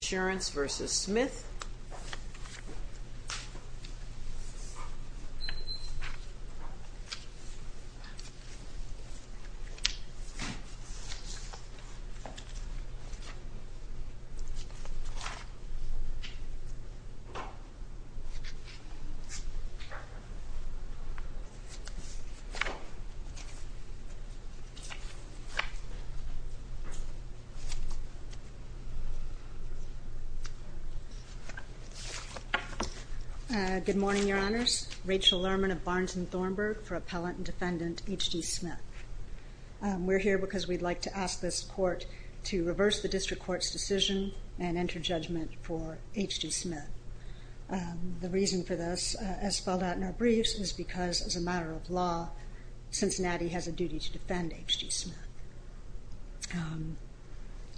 H.D. Insurance v. Smith. Good morning, Your Honors. Rachel Lerman of Barnes and Thornburg for Appellant and Defendant H.D. Smith. We're here because we'd like to ask this Court to reverse the District Court's decision and enter judgment for H.D. Smith. The reason for this, as spelled out in our briefs, is because, as a matter of law, Cincinnati has a duty to defend H.D. Smith.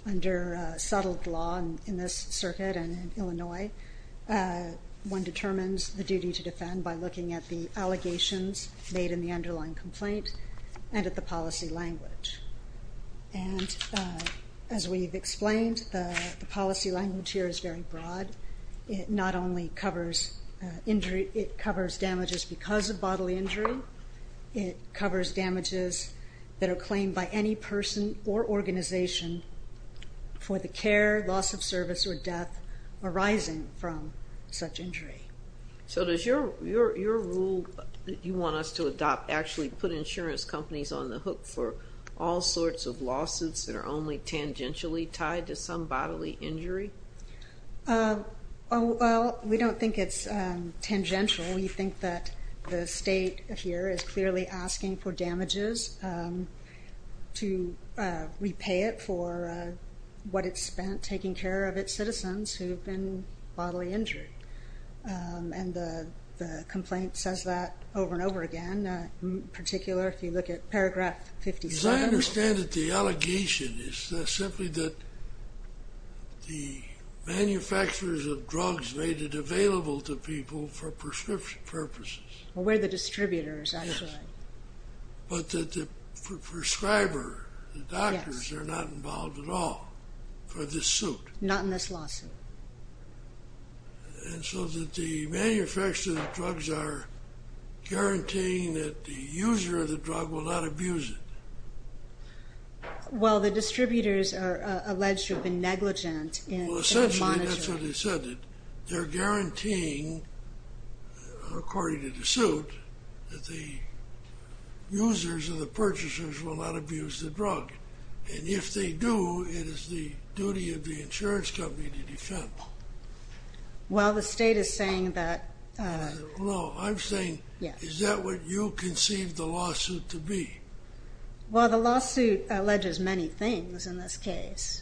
Under settled law in this circuit and in Illinois, one determines the duty to defend by looking at the allegations made in the underlying complaint and at the policy language. And as we've explained, the policy language here is very broad. It not only covers injury, it covers damages because of bodily injury, it covers damages that are claimed by any person or organization for the care, loss of service, or death arising from such injury. So does your rule that you want us to adopt actually put insurance companies on the hook for all sorts of lawsuits that are only tangentially tied to some bodily injury? Well, we don't think it's tangential. We think that the State here is clearly asking for damages to repay it for what it's spent taking care of its citizens who've been bodily injured. And the complaint says that over and over again, in particular if you look at paragraph 57. I understand that the allegation is simply that the manufacturers of drugs made it available to people for prescription purposes. Well, we're the distributors, actually. But that the prescriber, the doctors, are not involved at all for this suit. Not in this lawsuit. And so that the manufacturers of the drugs are guaranteeing that the user of the drug will not abuse it. Well, the distributors are alleged to have been negligent in monitoring. Well, essentially that's what they said. They're guaranteeing, according to the suit, that the users and the purchasers will not abuse the drug. And if they do, it is the duty of the insurance company to defend them. Well, the State is saying that... No, I'm saying, is that what you conceived the lawsuit to be? Well, the lawsuit alleges many things in this case.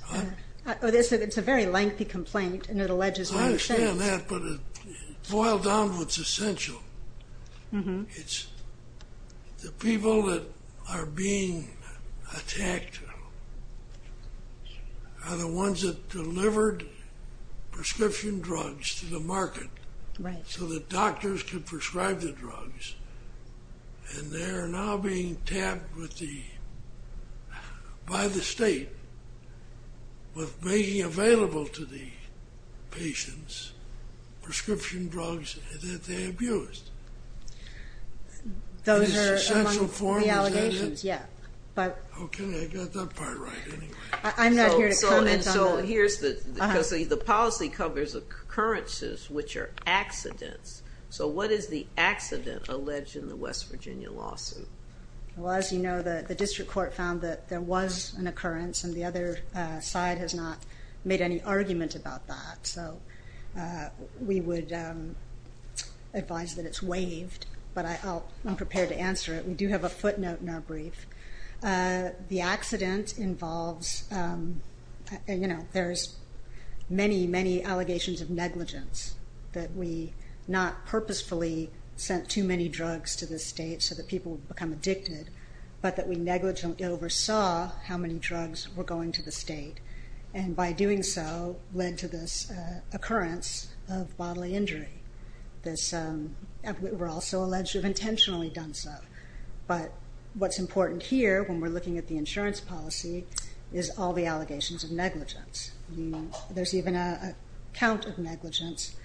It's a very lengthy complaint, and it alleges many things. It's the people that are being attacked are the ones that delivered prescription drugs to the market so that doctors could prescribe the drugs. And they are now being tapped by the State with making available to the patients prescription drugs that they abused. Those are among the allegations, yeah. Okay, I got that part right anyway. I'm not here to comment on that. So here's the... Because the policy covers occurrences which are accidents. So what is the accident alleged in the West Virginia lawsuit? Well, as you know, the district court found that there was an occurrence, and the other side has not made any argument about that. So we would advise that it's waived, but I'm prepared to answer it. We do have a footnote in our brief. The accident involves, you know, there's many, many allegations of negligence, that we not purposefully sent too many drugs to the State so that people would become addicted, but that we negligently oversaw how many drugs were going to the State, and by doing so led to this occurrence of bodily injury. We're also alleged to have intentionally done so. But what's important here, when we're looking at the insurance policy, is all the allegations of negligence. There's even a count of negligence,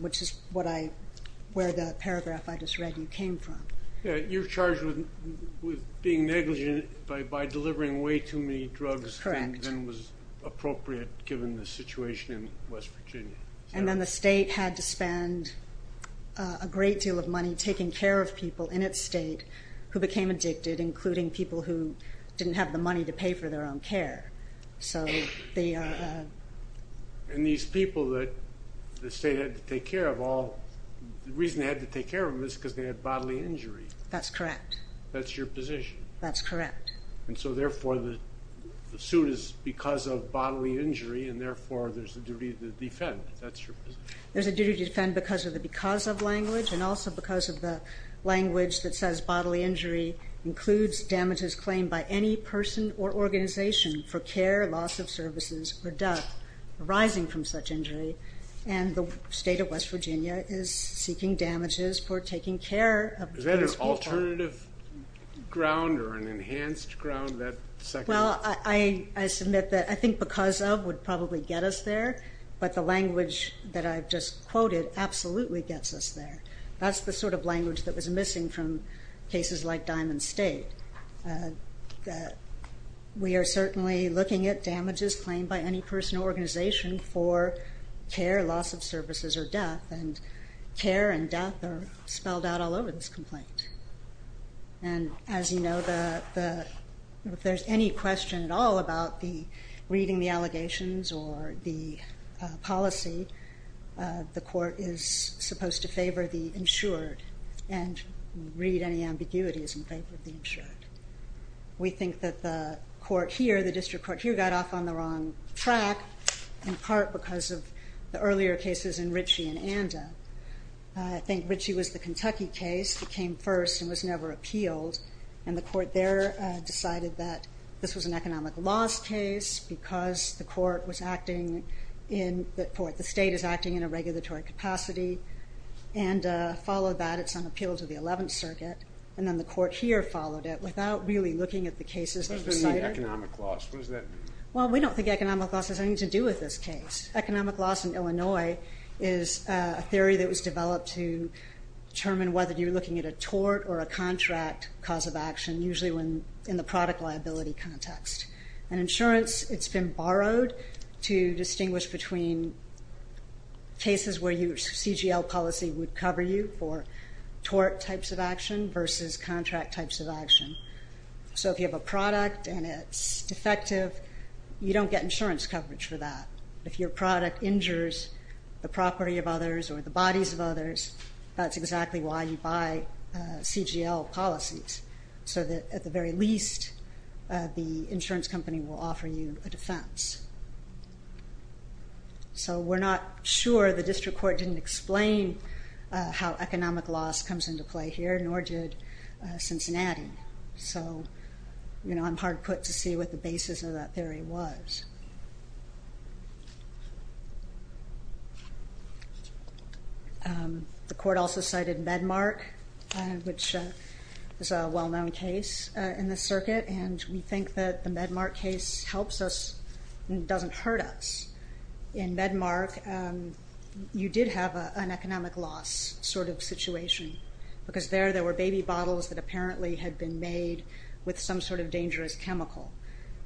which is where the paragraph I just read you came from. Yeah, you're charged with being negligent by delivering way too many drugs than was appropriate, given the situation in West Virginia. And then the State had to spend a great deal of money taking care of people in its State who became addicted, including people who didn't have the money to pay for their own care. And these people that the State had to take care of, the reason they had to take care of them is because they had bodily injury. That's correct. That's your position. That's correct. And so, therefore, the suit is because of bodily injury, and therefore there's a duty to defend. That's your position. There's a duty to defend because of the because of language, and also because of the language that says bodily injury includes damages claimed by any person or organization for care, loss of services, or death arising from such injury. And the State of West Virginia is seeking damages for taking care of those people. Is there an alternative ground or an enhanced ground to that? Well, I submit that I think because of would probably get us there, but the language that I've just quoted absolutely gets us there. That's the sort of language that was missing from cases like Diamond State. We are certainly looking at damages claimed by any person or organization for care, loss of services, or death, and care and death are spelled out all over this complaint. And as you know, if there's any question at all about the reading the allegations or the policy, the court is supposed to favor the insured and read any ambiguities in favor of the insured. We think that the court here, the district court here, got off on the wrong track in part because of the earlier cases in Ritchie and Anda. I think Ritchie was the Kentucky case that came first and was never appealed, and the court there decided that this was an economic loss case because the court was acting in the state is acting in a regulatory capacity and followed that. It's on appeal to the 11th Circuit, and then the court here followed it without really looking at the cases. What does it mean, economic loss? What does that mean? Well, we don't think economic loss has anything to do with this case. Economic loss in Illinois is a theory that was developed to determine whether you're looking at a tort or a contract cause of action, usually in the product liability context. And insurance, it's been borrowed to distinguish between cases where your CGL policy would cover you for tort types of action versus contract types of action. So if you have a product and it's defective, you don't get insurance coverage for that. If your product injures the property of others or the bodies of others, that's exactly why you buy CGL policies, so that at the very least, the insurance company will offer you a defense. So we're not sure. The district court didn't explain how economic loss comes into play here, nor did Cincinnati. So I'm hard put to see what the basis of that theory was. The court also cited Medmark, which is a well-known case in the circuit, and we think that the Medmark case helps us and doesn't hurt us. In Medmark, you did have an economic loss sort of situation, because there there were baby bottles that apparently had been made with some sort of dangerous chemical.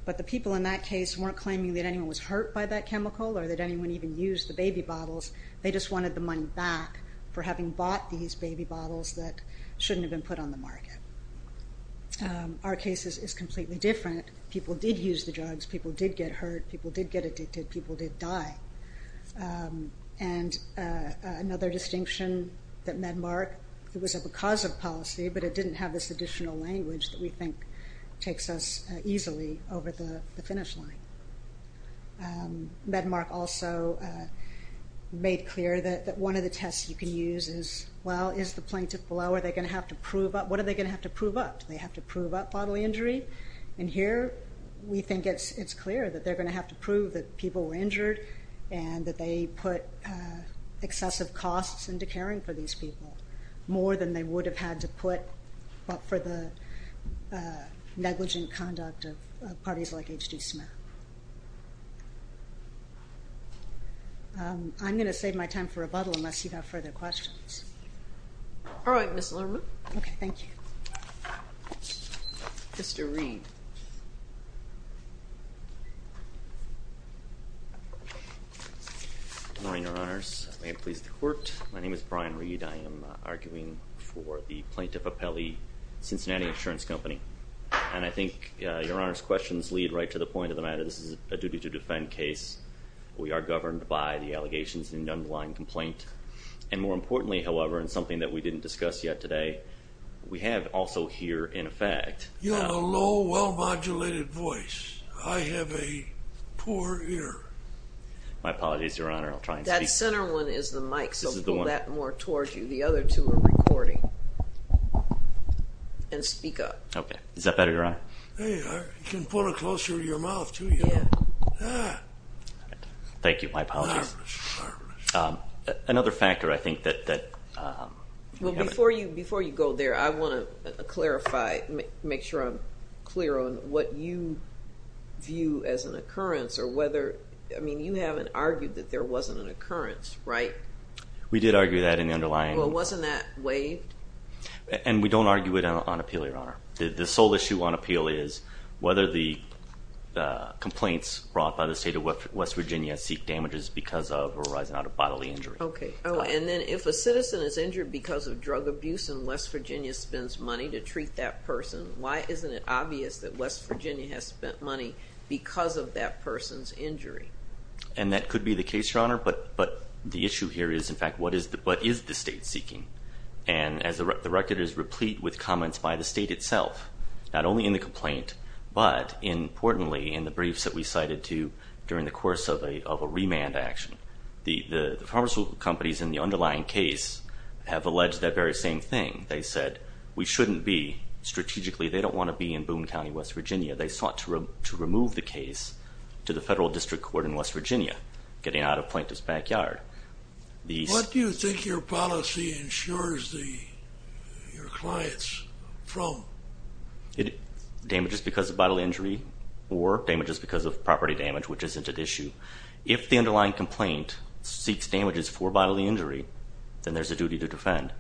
But the people in that case weren't claiming that anyone was hurt by that chemical or that anyone even used the baby bottles. They just wanted the money back for having bought these baby bottles that shouldn't have been put on the market. Our case is completely different. People did use the drugs. People did get hurt. People did get addicted. People did die. And another distinction that Medmark, it was a because of policy, but it didn't have this additional language that we think takes us easily over the finish line. Medmark also made clear that one of the tests you can use is, well, is the plaintiff below? Are they going to have to prove up? What are they going to have to prove up? Do they have to prove up bodily injury? And here we think it's clear that they're going to have to prove that people were injured and that they put excessive costs into caring for these people, more than they would have had to put for the negligent conduct of parties like H.G. Smith. I'm going to save my time for rebuttal unless you have further questions. All right, Ms. Lerman. Okay. Thank you. Mr. Reed. Good morning, Your Honors. May it please the Court. My name is Brian Reed. I am arguing for the Plaintiff Appellee Cincinnati Insurance Company. And I think Your Honor's questions lead right to the point of the matter. This is a duty to defend case. We are governed by the allegations in the underlying complaint. And more importantly, however, and something that we didn't discuss yet today, we have also here in effect. You have a low, well-modulated voice. I have a poor ear. My apologies, Your Honor. I'll try and speak. The center one is the mic, so pull that more towards you. The other two are recording. And speak up. Okay. Is that better, Your Honor? Hey, you can pull it closer to your mouth, too, you know. Thank you. My apologies. Another factor, I think, that... Well, before you go there, I want to clarify, make sure I'm clear on what you view as an occurrence or whether, I mean, you haven't argued that there wasn't an occurrence, right? We did argue that in the underlying. Well, wasn't that waived? And we don't argue it on appeal, Your Honor. The sole issue on appeal is whether the complaints brought by the State of West Virginia seek damages because of or arising out of bodily injury. Okay. Oh, and then if a citizen is injured because of drug abuse and West Virginia spends money to treat that person, why isn't it obvious that West Virginia has spent money because of that person's injury? And that could be the case, Your Honor. But the issue here is, in fact, what is the State seeking? And as the record is replete with comments by the State itself, not only in the complaint but, importantly, in the briefs that we cited, too, during the course of a remand action. The pharmaceutical companies in the underlying case have alleged that very same thing. They said we shouldn't be strategically. They don't want to be in Boone County, West Virginia. They sought to remove the case to the Federal District Court in West Virginia, getting out of plaintiff's backyard. What do you think your policy insures your clients from? Damages because of bodily injury or damages because of property damage, which isn't at issue. If the underlying complaint seeks damages for bodily injury, then there's a duty to defend.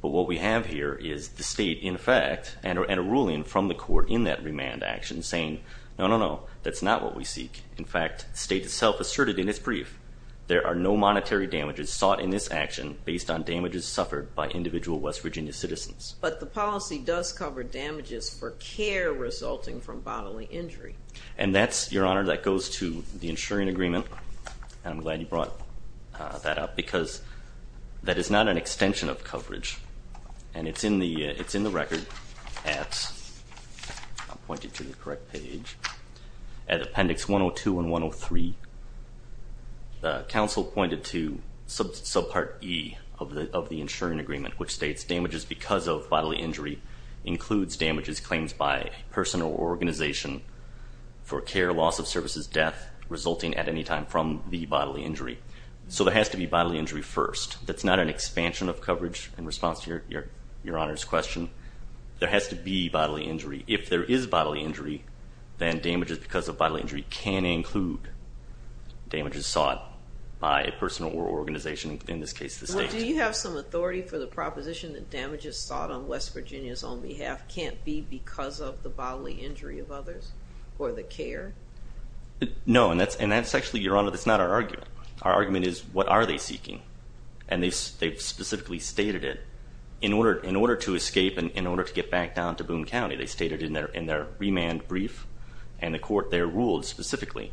But what we have here is the State, in fact, and a ruling from the court in that remand action saying, no, no, no, that's not what we seek. In fact, the State itself asserted in its brief, there are no monetary damages sought in this action based on damages suffered by individual West Virginia citizens. But the policy does cover damages for care resulting from bodily injury. And that's, Your Honor, that goes to the insuring agreement. And I'm glad you brought that up because that is not an extension of coverage. And it's in the record at, I'll point you to the correct page, at Appendix 102 and 103. The counsel pointed to subpart E of the insuring agreement, which states damages because of bodily injury includes damages claimed by a person or organization for care, loss of services, death resulting at any time from the bodily injury. So there has to be bodily injury first. That's not an expansion of coverage in response to Your Honor's question. There has to be bodily injury. If there is bodily injury, then damages because of bodily injury can include damages sought by a person or organization, in this case the State. Do you have some authority for the proposition that damages sought on West Virginia's own behalf can't be because of the bodily injury of others or the care? No, and that's actually, Your Honor, that's not our argument. Our argument is what are they seeking? And they specifically stated it. In order to escape and in order to get back down to Boone County, they stated in their remand brief and the court there ruled specifically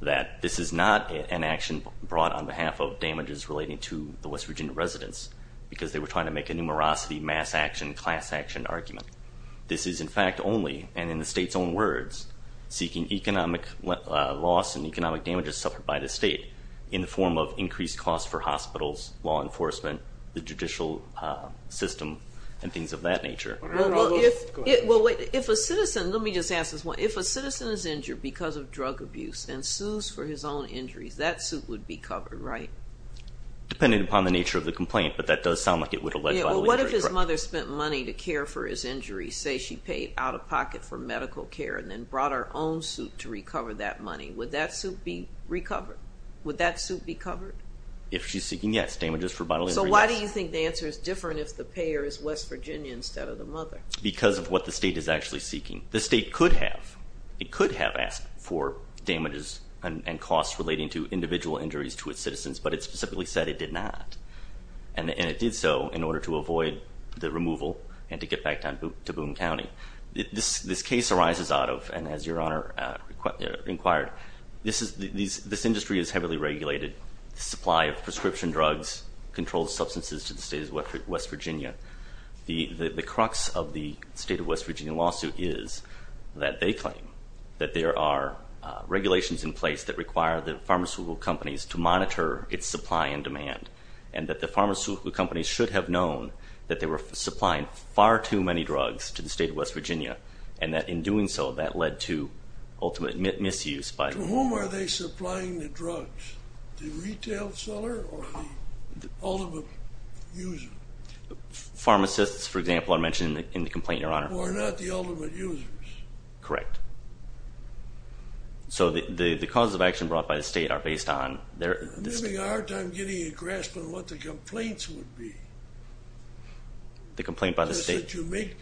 that this is not an action brought on behalf of damages relating to the West Virginia residents because they were trying to make a numerosity, mass action, class action argument. This is in fact only, and in the State's own words, seeking economic loss and economic damages suffered by the State in the form of increased costs for hospitals, law enforcement, the judicial system, and things of that nature. Well, wait, if a citizen, let me just ask this one. If a citizen is injured because of drug abuse and sues for his own injuries, that suit would be covered, right? Dependent upon the nature of the complaint, but that does sound like it would allege bodily injury. What if his mother spent money to care for his injuries, say she paid out of pocket for medical care and then brought her own suit to recover that money, would that suit be recovered? Would that suit be covered? If she's seeking, yes. Damages for bodily injury, yes. So why do you think the answer is different if the payer is West Virginia instead of the mother? Because of what the State is actually seeking. The State could have. It could have asked for damages and costs relating to individual injuries to its citizens, but it specifically said it did not. And it did so in order to avoid the removal and to get back to Boone County. This case arises out of, and as Your Honor inquired, this industry is heavily regulated. The supply of prescription drugs, controlled substances to the State of West Virginia. The crux of the State of West Virginia lawsuit is that they claim that there are regulations in place that require the pharmaceutical companies to monitor its supply and demand, and that the pharmaceutical companies should have known that they were supplying far too many drugs to the State of West Virginia, and that in doing so, that led to ultimate misuse. To whom are they supplying the drugs? The retail seller or the ultimate user? Pharmacists, for example, are mentioned in the complaint, Your Honor. Who are not the ultimate users. Correct. So the causes of action brought by the State are based on their... I'm having a hard time getting a grasp on what the complaints would be. The complaint by the State... That you make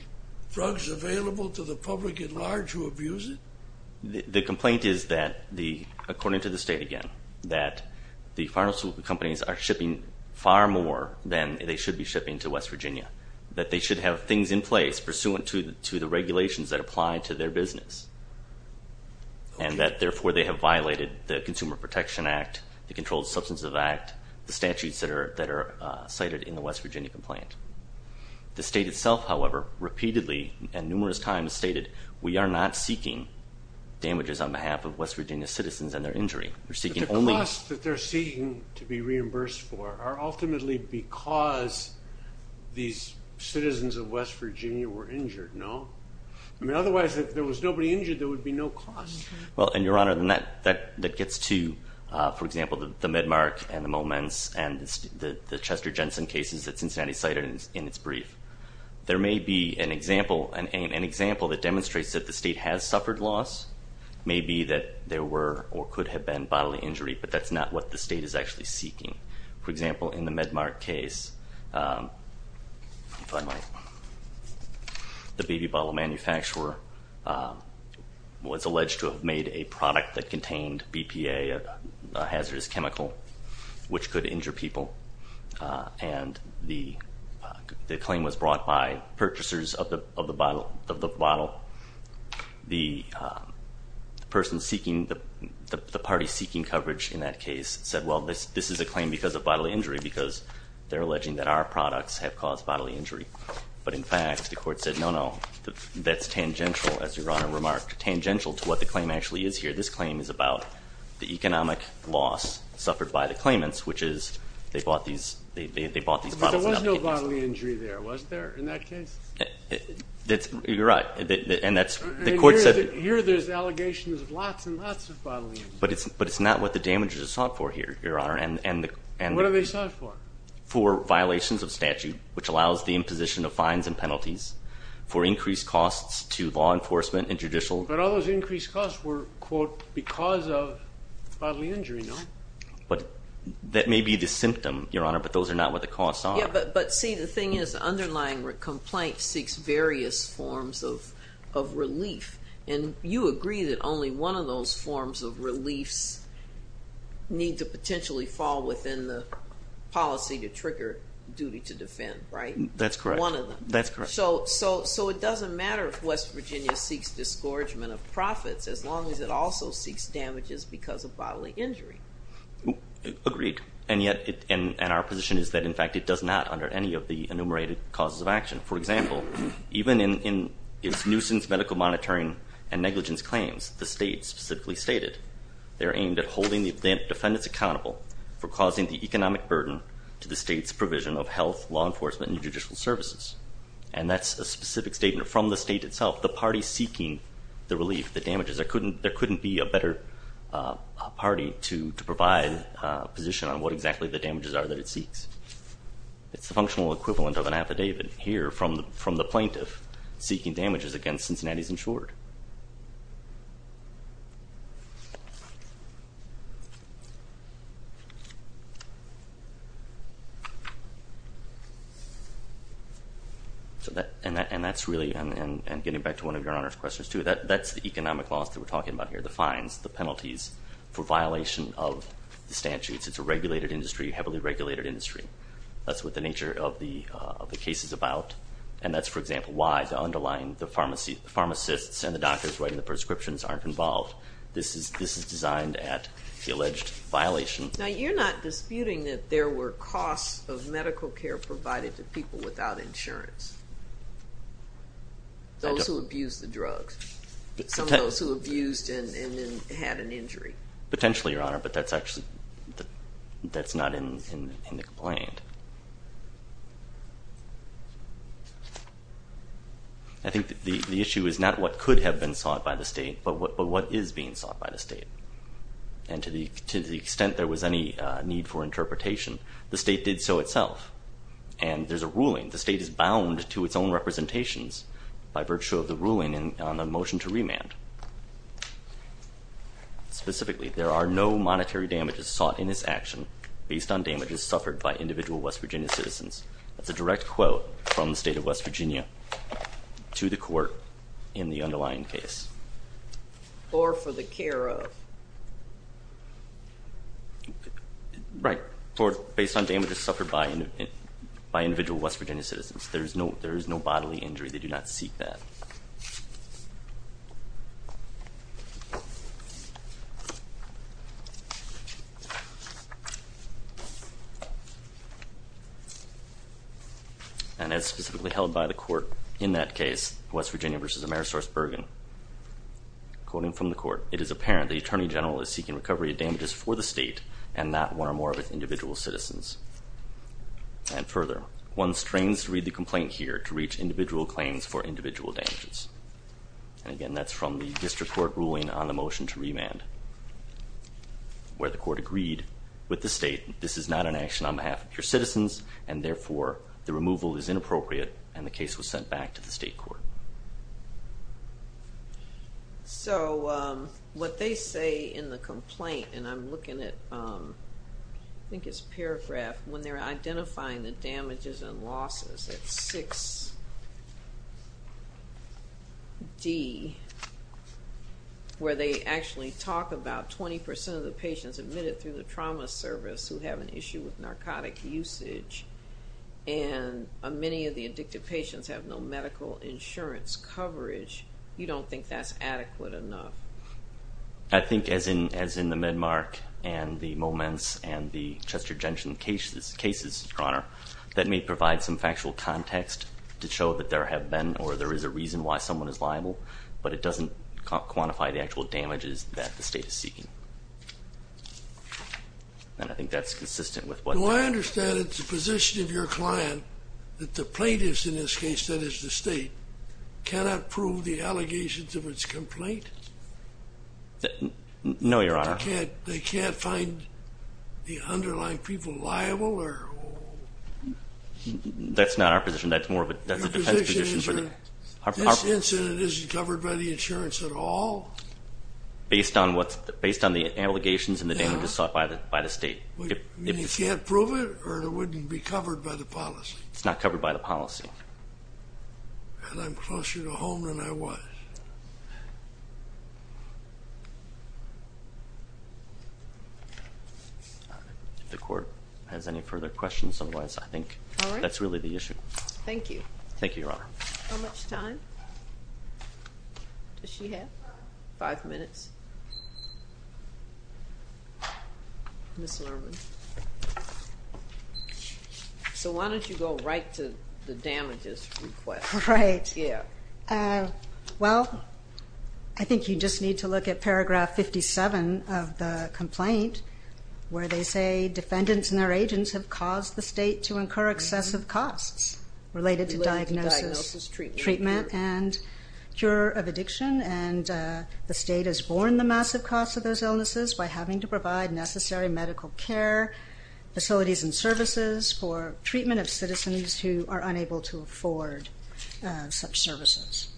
drugs available to the public at large who abuse it? The complaint is that, according to the State again, that the pharmaceutical companies are shipping far more than they should be shipping to West Virginia, that they should have things in place pursuant to the regulations that apply to their business, and that, therefore, they have violated the Consumer Protection Act, the Controlled Substances Act, the statutes that are cited in the West Virginia complaint. The State itself, however, repeatedly and numerous times stated, we are not seeking damages on behalf of West Virginia citizens and their injury. We're seeking only... These citizens of West Virginia were injured, no? I mean, otherwise, if there was nobody injured, there would be no cost. Well, and, Your Honor, that gets to, for example, the MedMart and the Moments and the Chester Jensen cases that Cincinnati cited in its brief. There may be an example that demonstrates that the State has suffered loss. It may be that there were or could have been bodily injury, but that's not what the State is actually seeking. For example, in the MedMart case, the baby bottle manufacturer was alleged to have made a product that contained BPA, a hazardous chemical, which could injure people, and the claim was brought by purchasers of the bottle. The party seeking coverage in that case said, well, this is a claim because of bodily injury, because they're alleging that our products have caused bodily injury. But, in fact, the court said, no, no, that's tangential, as Your Honor remarked, tangential to what the claim actually is here. This claim is about the economic loss suffered by the claimants, which is they bought these bottles without the agency. But there was no bodily injury there, was there, in that case? You're right, and that's... And here there's allegations of lots and lots of bodily injury. But it's not what the damages are sought for here, Your Honor. And what are they sought for? For violations of statute, which allows the imposition of fines and penalties, for increased costs to law enforcement and judicial... But all those increased costs were, quote, because of bodily injury, no? That may be the symptom, Your Honor, but those are not what the costs are. But, see, the thing is the underlying complaint seeks various forms of relief, and you agree that only one of those forms of reliefs need to potentially fall within the policy to trigger duty to defend, right? That's correct. One of them. That's correct. So it doesn't matter if West Virginia seeks disgorgement of profits as long as it also seeks damages because of bodily injury. Agreed, and yet our position is that, in fact, it does not under any of the enumerated causes of action. For example, even in its nuisance medical monitoring and negligence claims, the state specifically stated they're aimed at holding the defendants accountable for causing the economic burden to the state's provision of health, law enforcement, and judicial services. And that's a specific statement from the state itself, the party seeking the relief, the damages. There couldn't be a better party to provide a position on what exactly the damages are that it seeks. It's the functional equivalent of an affidavit here from the plaintiff seeking damages against Cincinnati's insured. And that's really, and getting back to one of Your Honor's questions too, that's the economic loss that we're talking about here, the fines, the penalties for violation of the statutes. It's a regulated industry, heavily regulated industry. That's what the nature of the case is about. And that's, for example, why the underlying pharmacists and the doctors writing the prescriptions aren't involved. This is designed at the alleged violation. Now, you're not disputing that there were costs of medical care provided to people without insurance, those who abused the drugs, some of those who abused and then had an injury. Potentially, Your Honor, but that's not in the complaint. I think the issue is not what could have been sought by the state, but what is being sought by the state. And to the extent there was any need for interpretation, the state did so itself. And there's a ruling, the state is bound to its own representations by virtue of the ruling on the motion to remand. Specifically, there are no monetary damages sought in this action based on damages suffered by individual West Virginia citizens. That's a direct quote from the state of West Virginia to the court in the underlying case. Or for the care of. Right, or based on damages suffered by individual West Virginia citizens. There is no bodily injury. They do not seek that. And as specifically held by the court in that case, West Virginia v. Amerisource Bergen, quoting from the court, it is apparent the Attorney General is seeking recovery of damages for the state and not one or more of its individual citizens. And further, one strains to read the complaint here to reach individual claims for individual damages. And again, that's from the state of West Virginia. The district court ruling on the motion to remand, where the court agreed with the state, this is not an action on behalf of your citizens, and therefore the removal is inappropriate, and the case was sent back to the state court. So what they say in the complaint, and I'm looking at, I think it's a paragraph, when they're identifying the damages and losses, it's 6D, where they actually talk about 20% of the patients admitted through the trauma service who have an issue with narcotic usage, and many of the addicted patients have no medical insurance coverage. You don't think that's adequate enough? I think as in the Medmark and the Moments and the Chester Genshin cases, Your Honor, that may provide some factual context to show that there have been or there is a reason why someone is liable, but it doesn't quantify the actual damages that the state is seeking. And I think that's consistent with what the court said. No, I understand that the position of your client, that the plaintiffs in this case, that is the state, cannot prove the allegations of its complaint? No, Your Honor. They can't find the underlying people liable? That's not our position. That's more of a defense position. This incident isn't covered by the insurance at all? Based on the allegations and the damages sought by the state. You can't prove it, or it wouldn't be covered by the policy? It's not covered by the policy. And I'm closer to home than I was. If the court has any further questions, otherwise I think that's really the issue. Thank you. Thank you, Your Honor. How much time does she have? Five minutes? Ms. Lerman. So why don't you go right to the damages request? Right. Yeah. Well, I think you just need to look at paragraph 57 of the complaint, where they say defendants and their agents have caused the state to incur excessive costs related to diagnosis, treatment, and cure of addiction. And the state has borne the massive costs of those illnesses by having to provide necessary medical care, facilities and services for treatment of citizens who are unable to afford such services.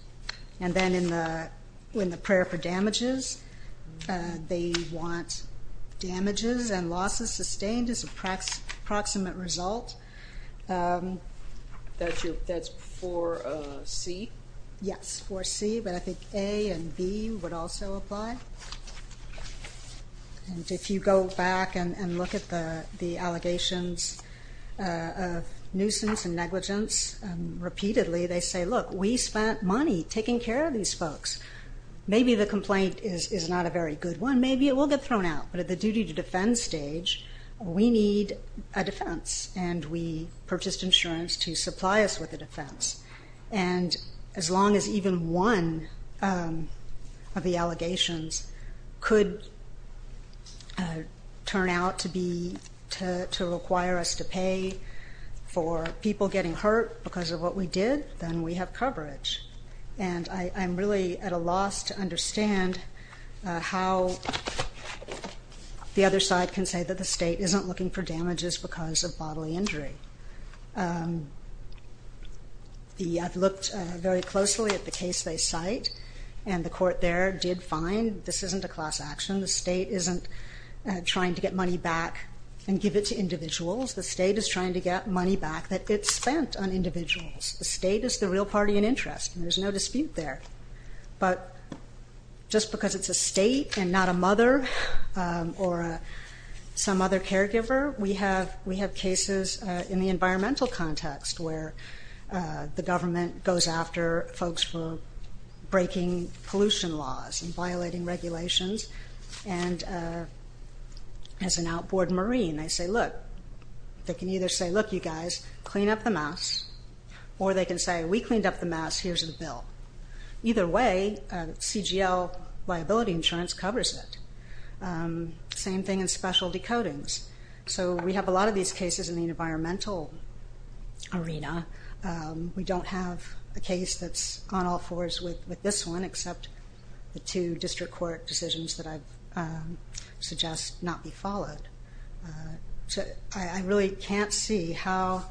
And then in the prayer for damages, they want damages and losses sustained as an approximate result. That's for C? Yes, for C, but I think A and B would also apply. And if you go back and look at the allegations of nuisance and negligence repeatedly, they say, look, we spent money taking care of these folks. Maybe the complaint is not a very good one. Maybe it will get thrown out. But at the duty to defend stage, we need a defense, and we purchased insurance to supply us with a defense. And as long as even one of the allegations could turn out to require us to pay for people getting hurt because of what we did, then we have coverage. And I'm really at a loss to understand how the other side can say that the state isn't looking for damages because of bodily injury. I've looked very closely at the case they cite, and the court there did find this isn't a class action. The state isn't trying to get money back and give it to individuals. The state is trying to get money back that it spent on individuals. The state is the real party in interest, and there's no dispute there. But just because it's a state and not a mother or some other caregiver, we have cases in the environmental context where the government goes after folks for breaking pollution laws and violating regulations. And as an outboard Marine, I say, look, they can either say, look, you guys, clean up the mess, or they can say, we cleaned up the mess, here's the bill. Either way, CGL liability insurance covers it. Same thing in specialty coatings. So we have a lot of these cases in the environmental arena. We don't have a case that's on all fours with this one, except the two district court decisions that I suggest not be followed. So I really can't see how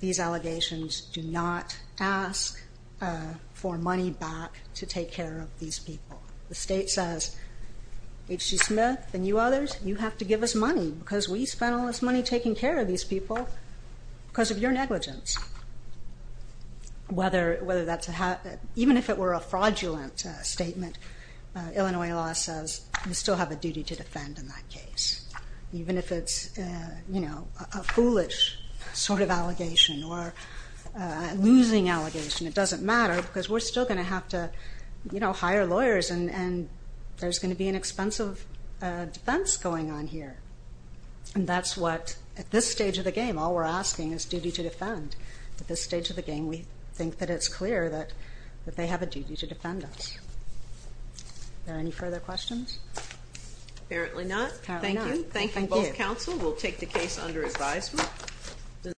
these allegations do not ask for money back to take care of these people. The state says, H.G. Smith and you others, you have to give us money because we spent all this money taking care of these people because of your negligence. Even if it were a fraudulent statement, Illinois law says you still have a duty to defend in that case. Even if it's a foolish sort of allegation or a losing allegation, it doesn't matter because we're still going to have to hire lawyers and there's going to be an expensive defense going on here. And that's what, at this stage of the game, all we're asking is duty to defend. At this stage of the game, we think that it's clear that they have a duty to defend us. Are there any further questions? Apparently not. Thank you. Thank you both counsel. We'll take the case under advisement.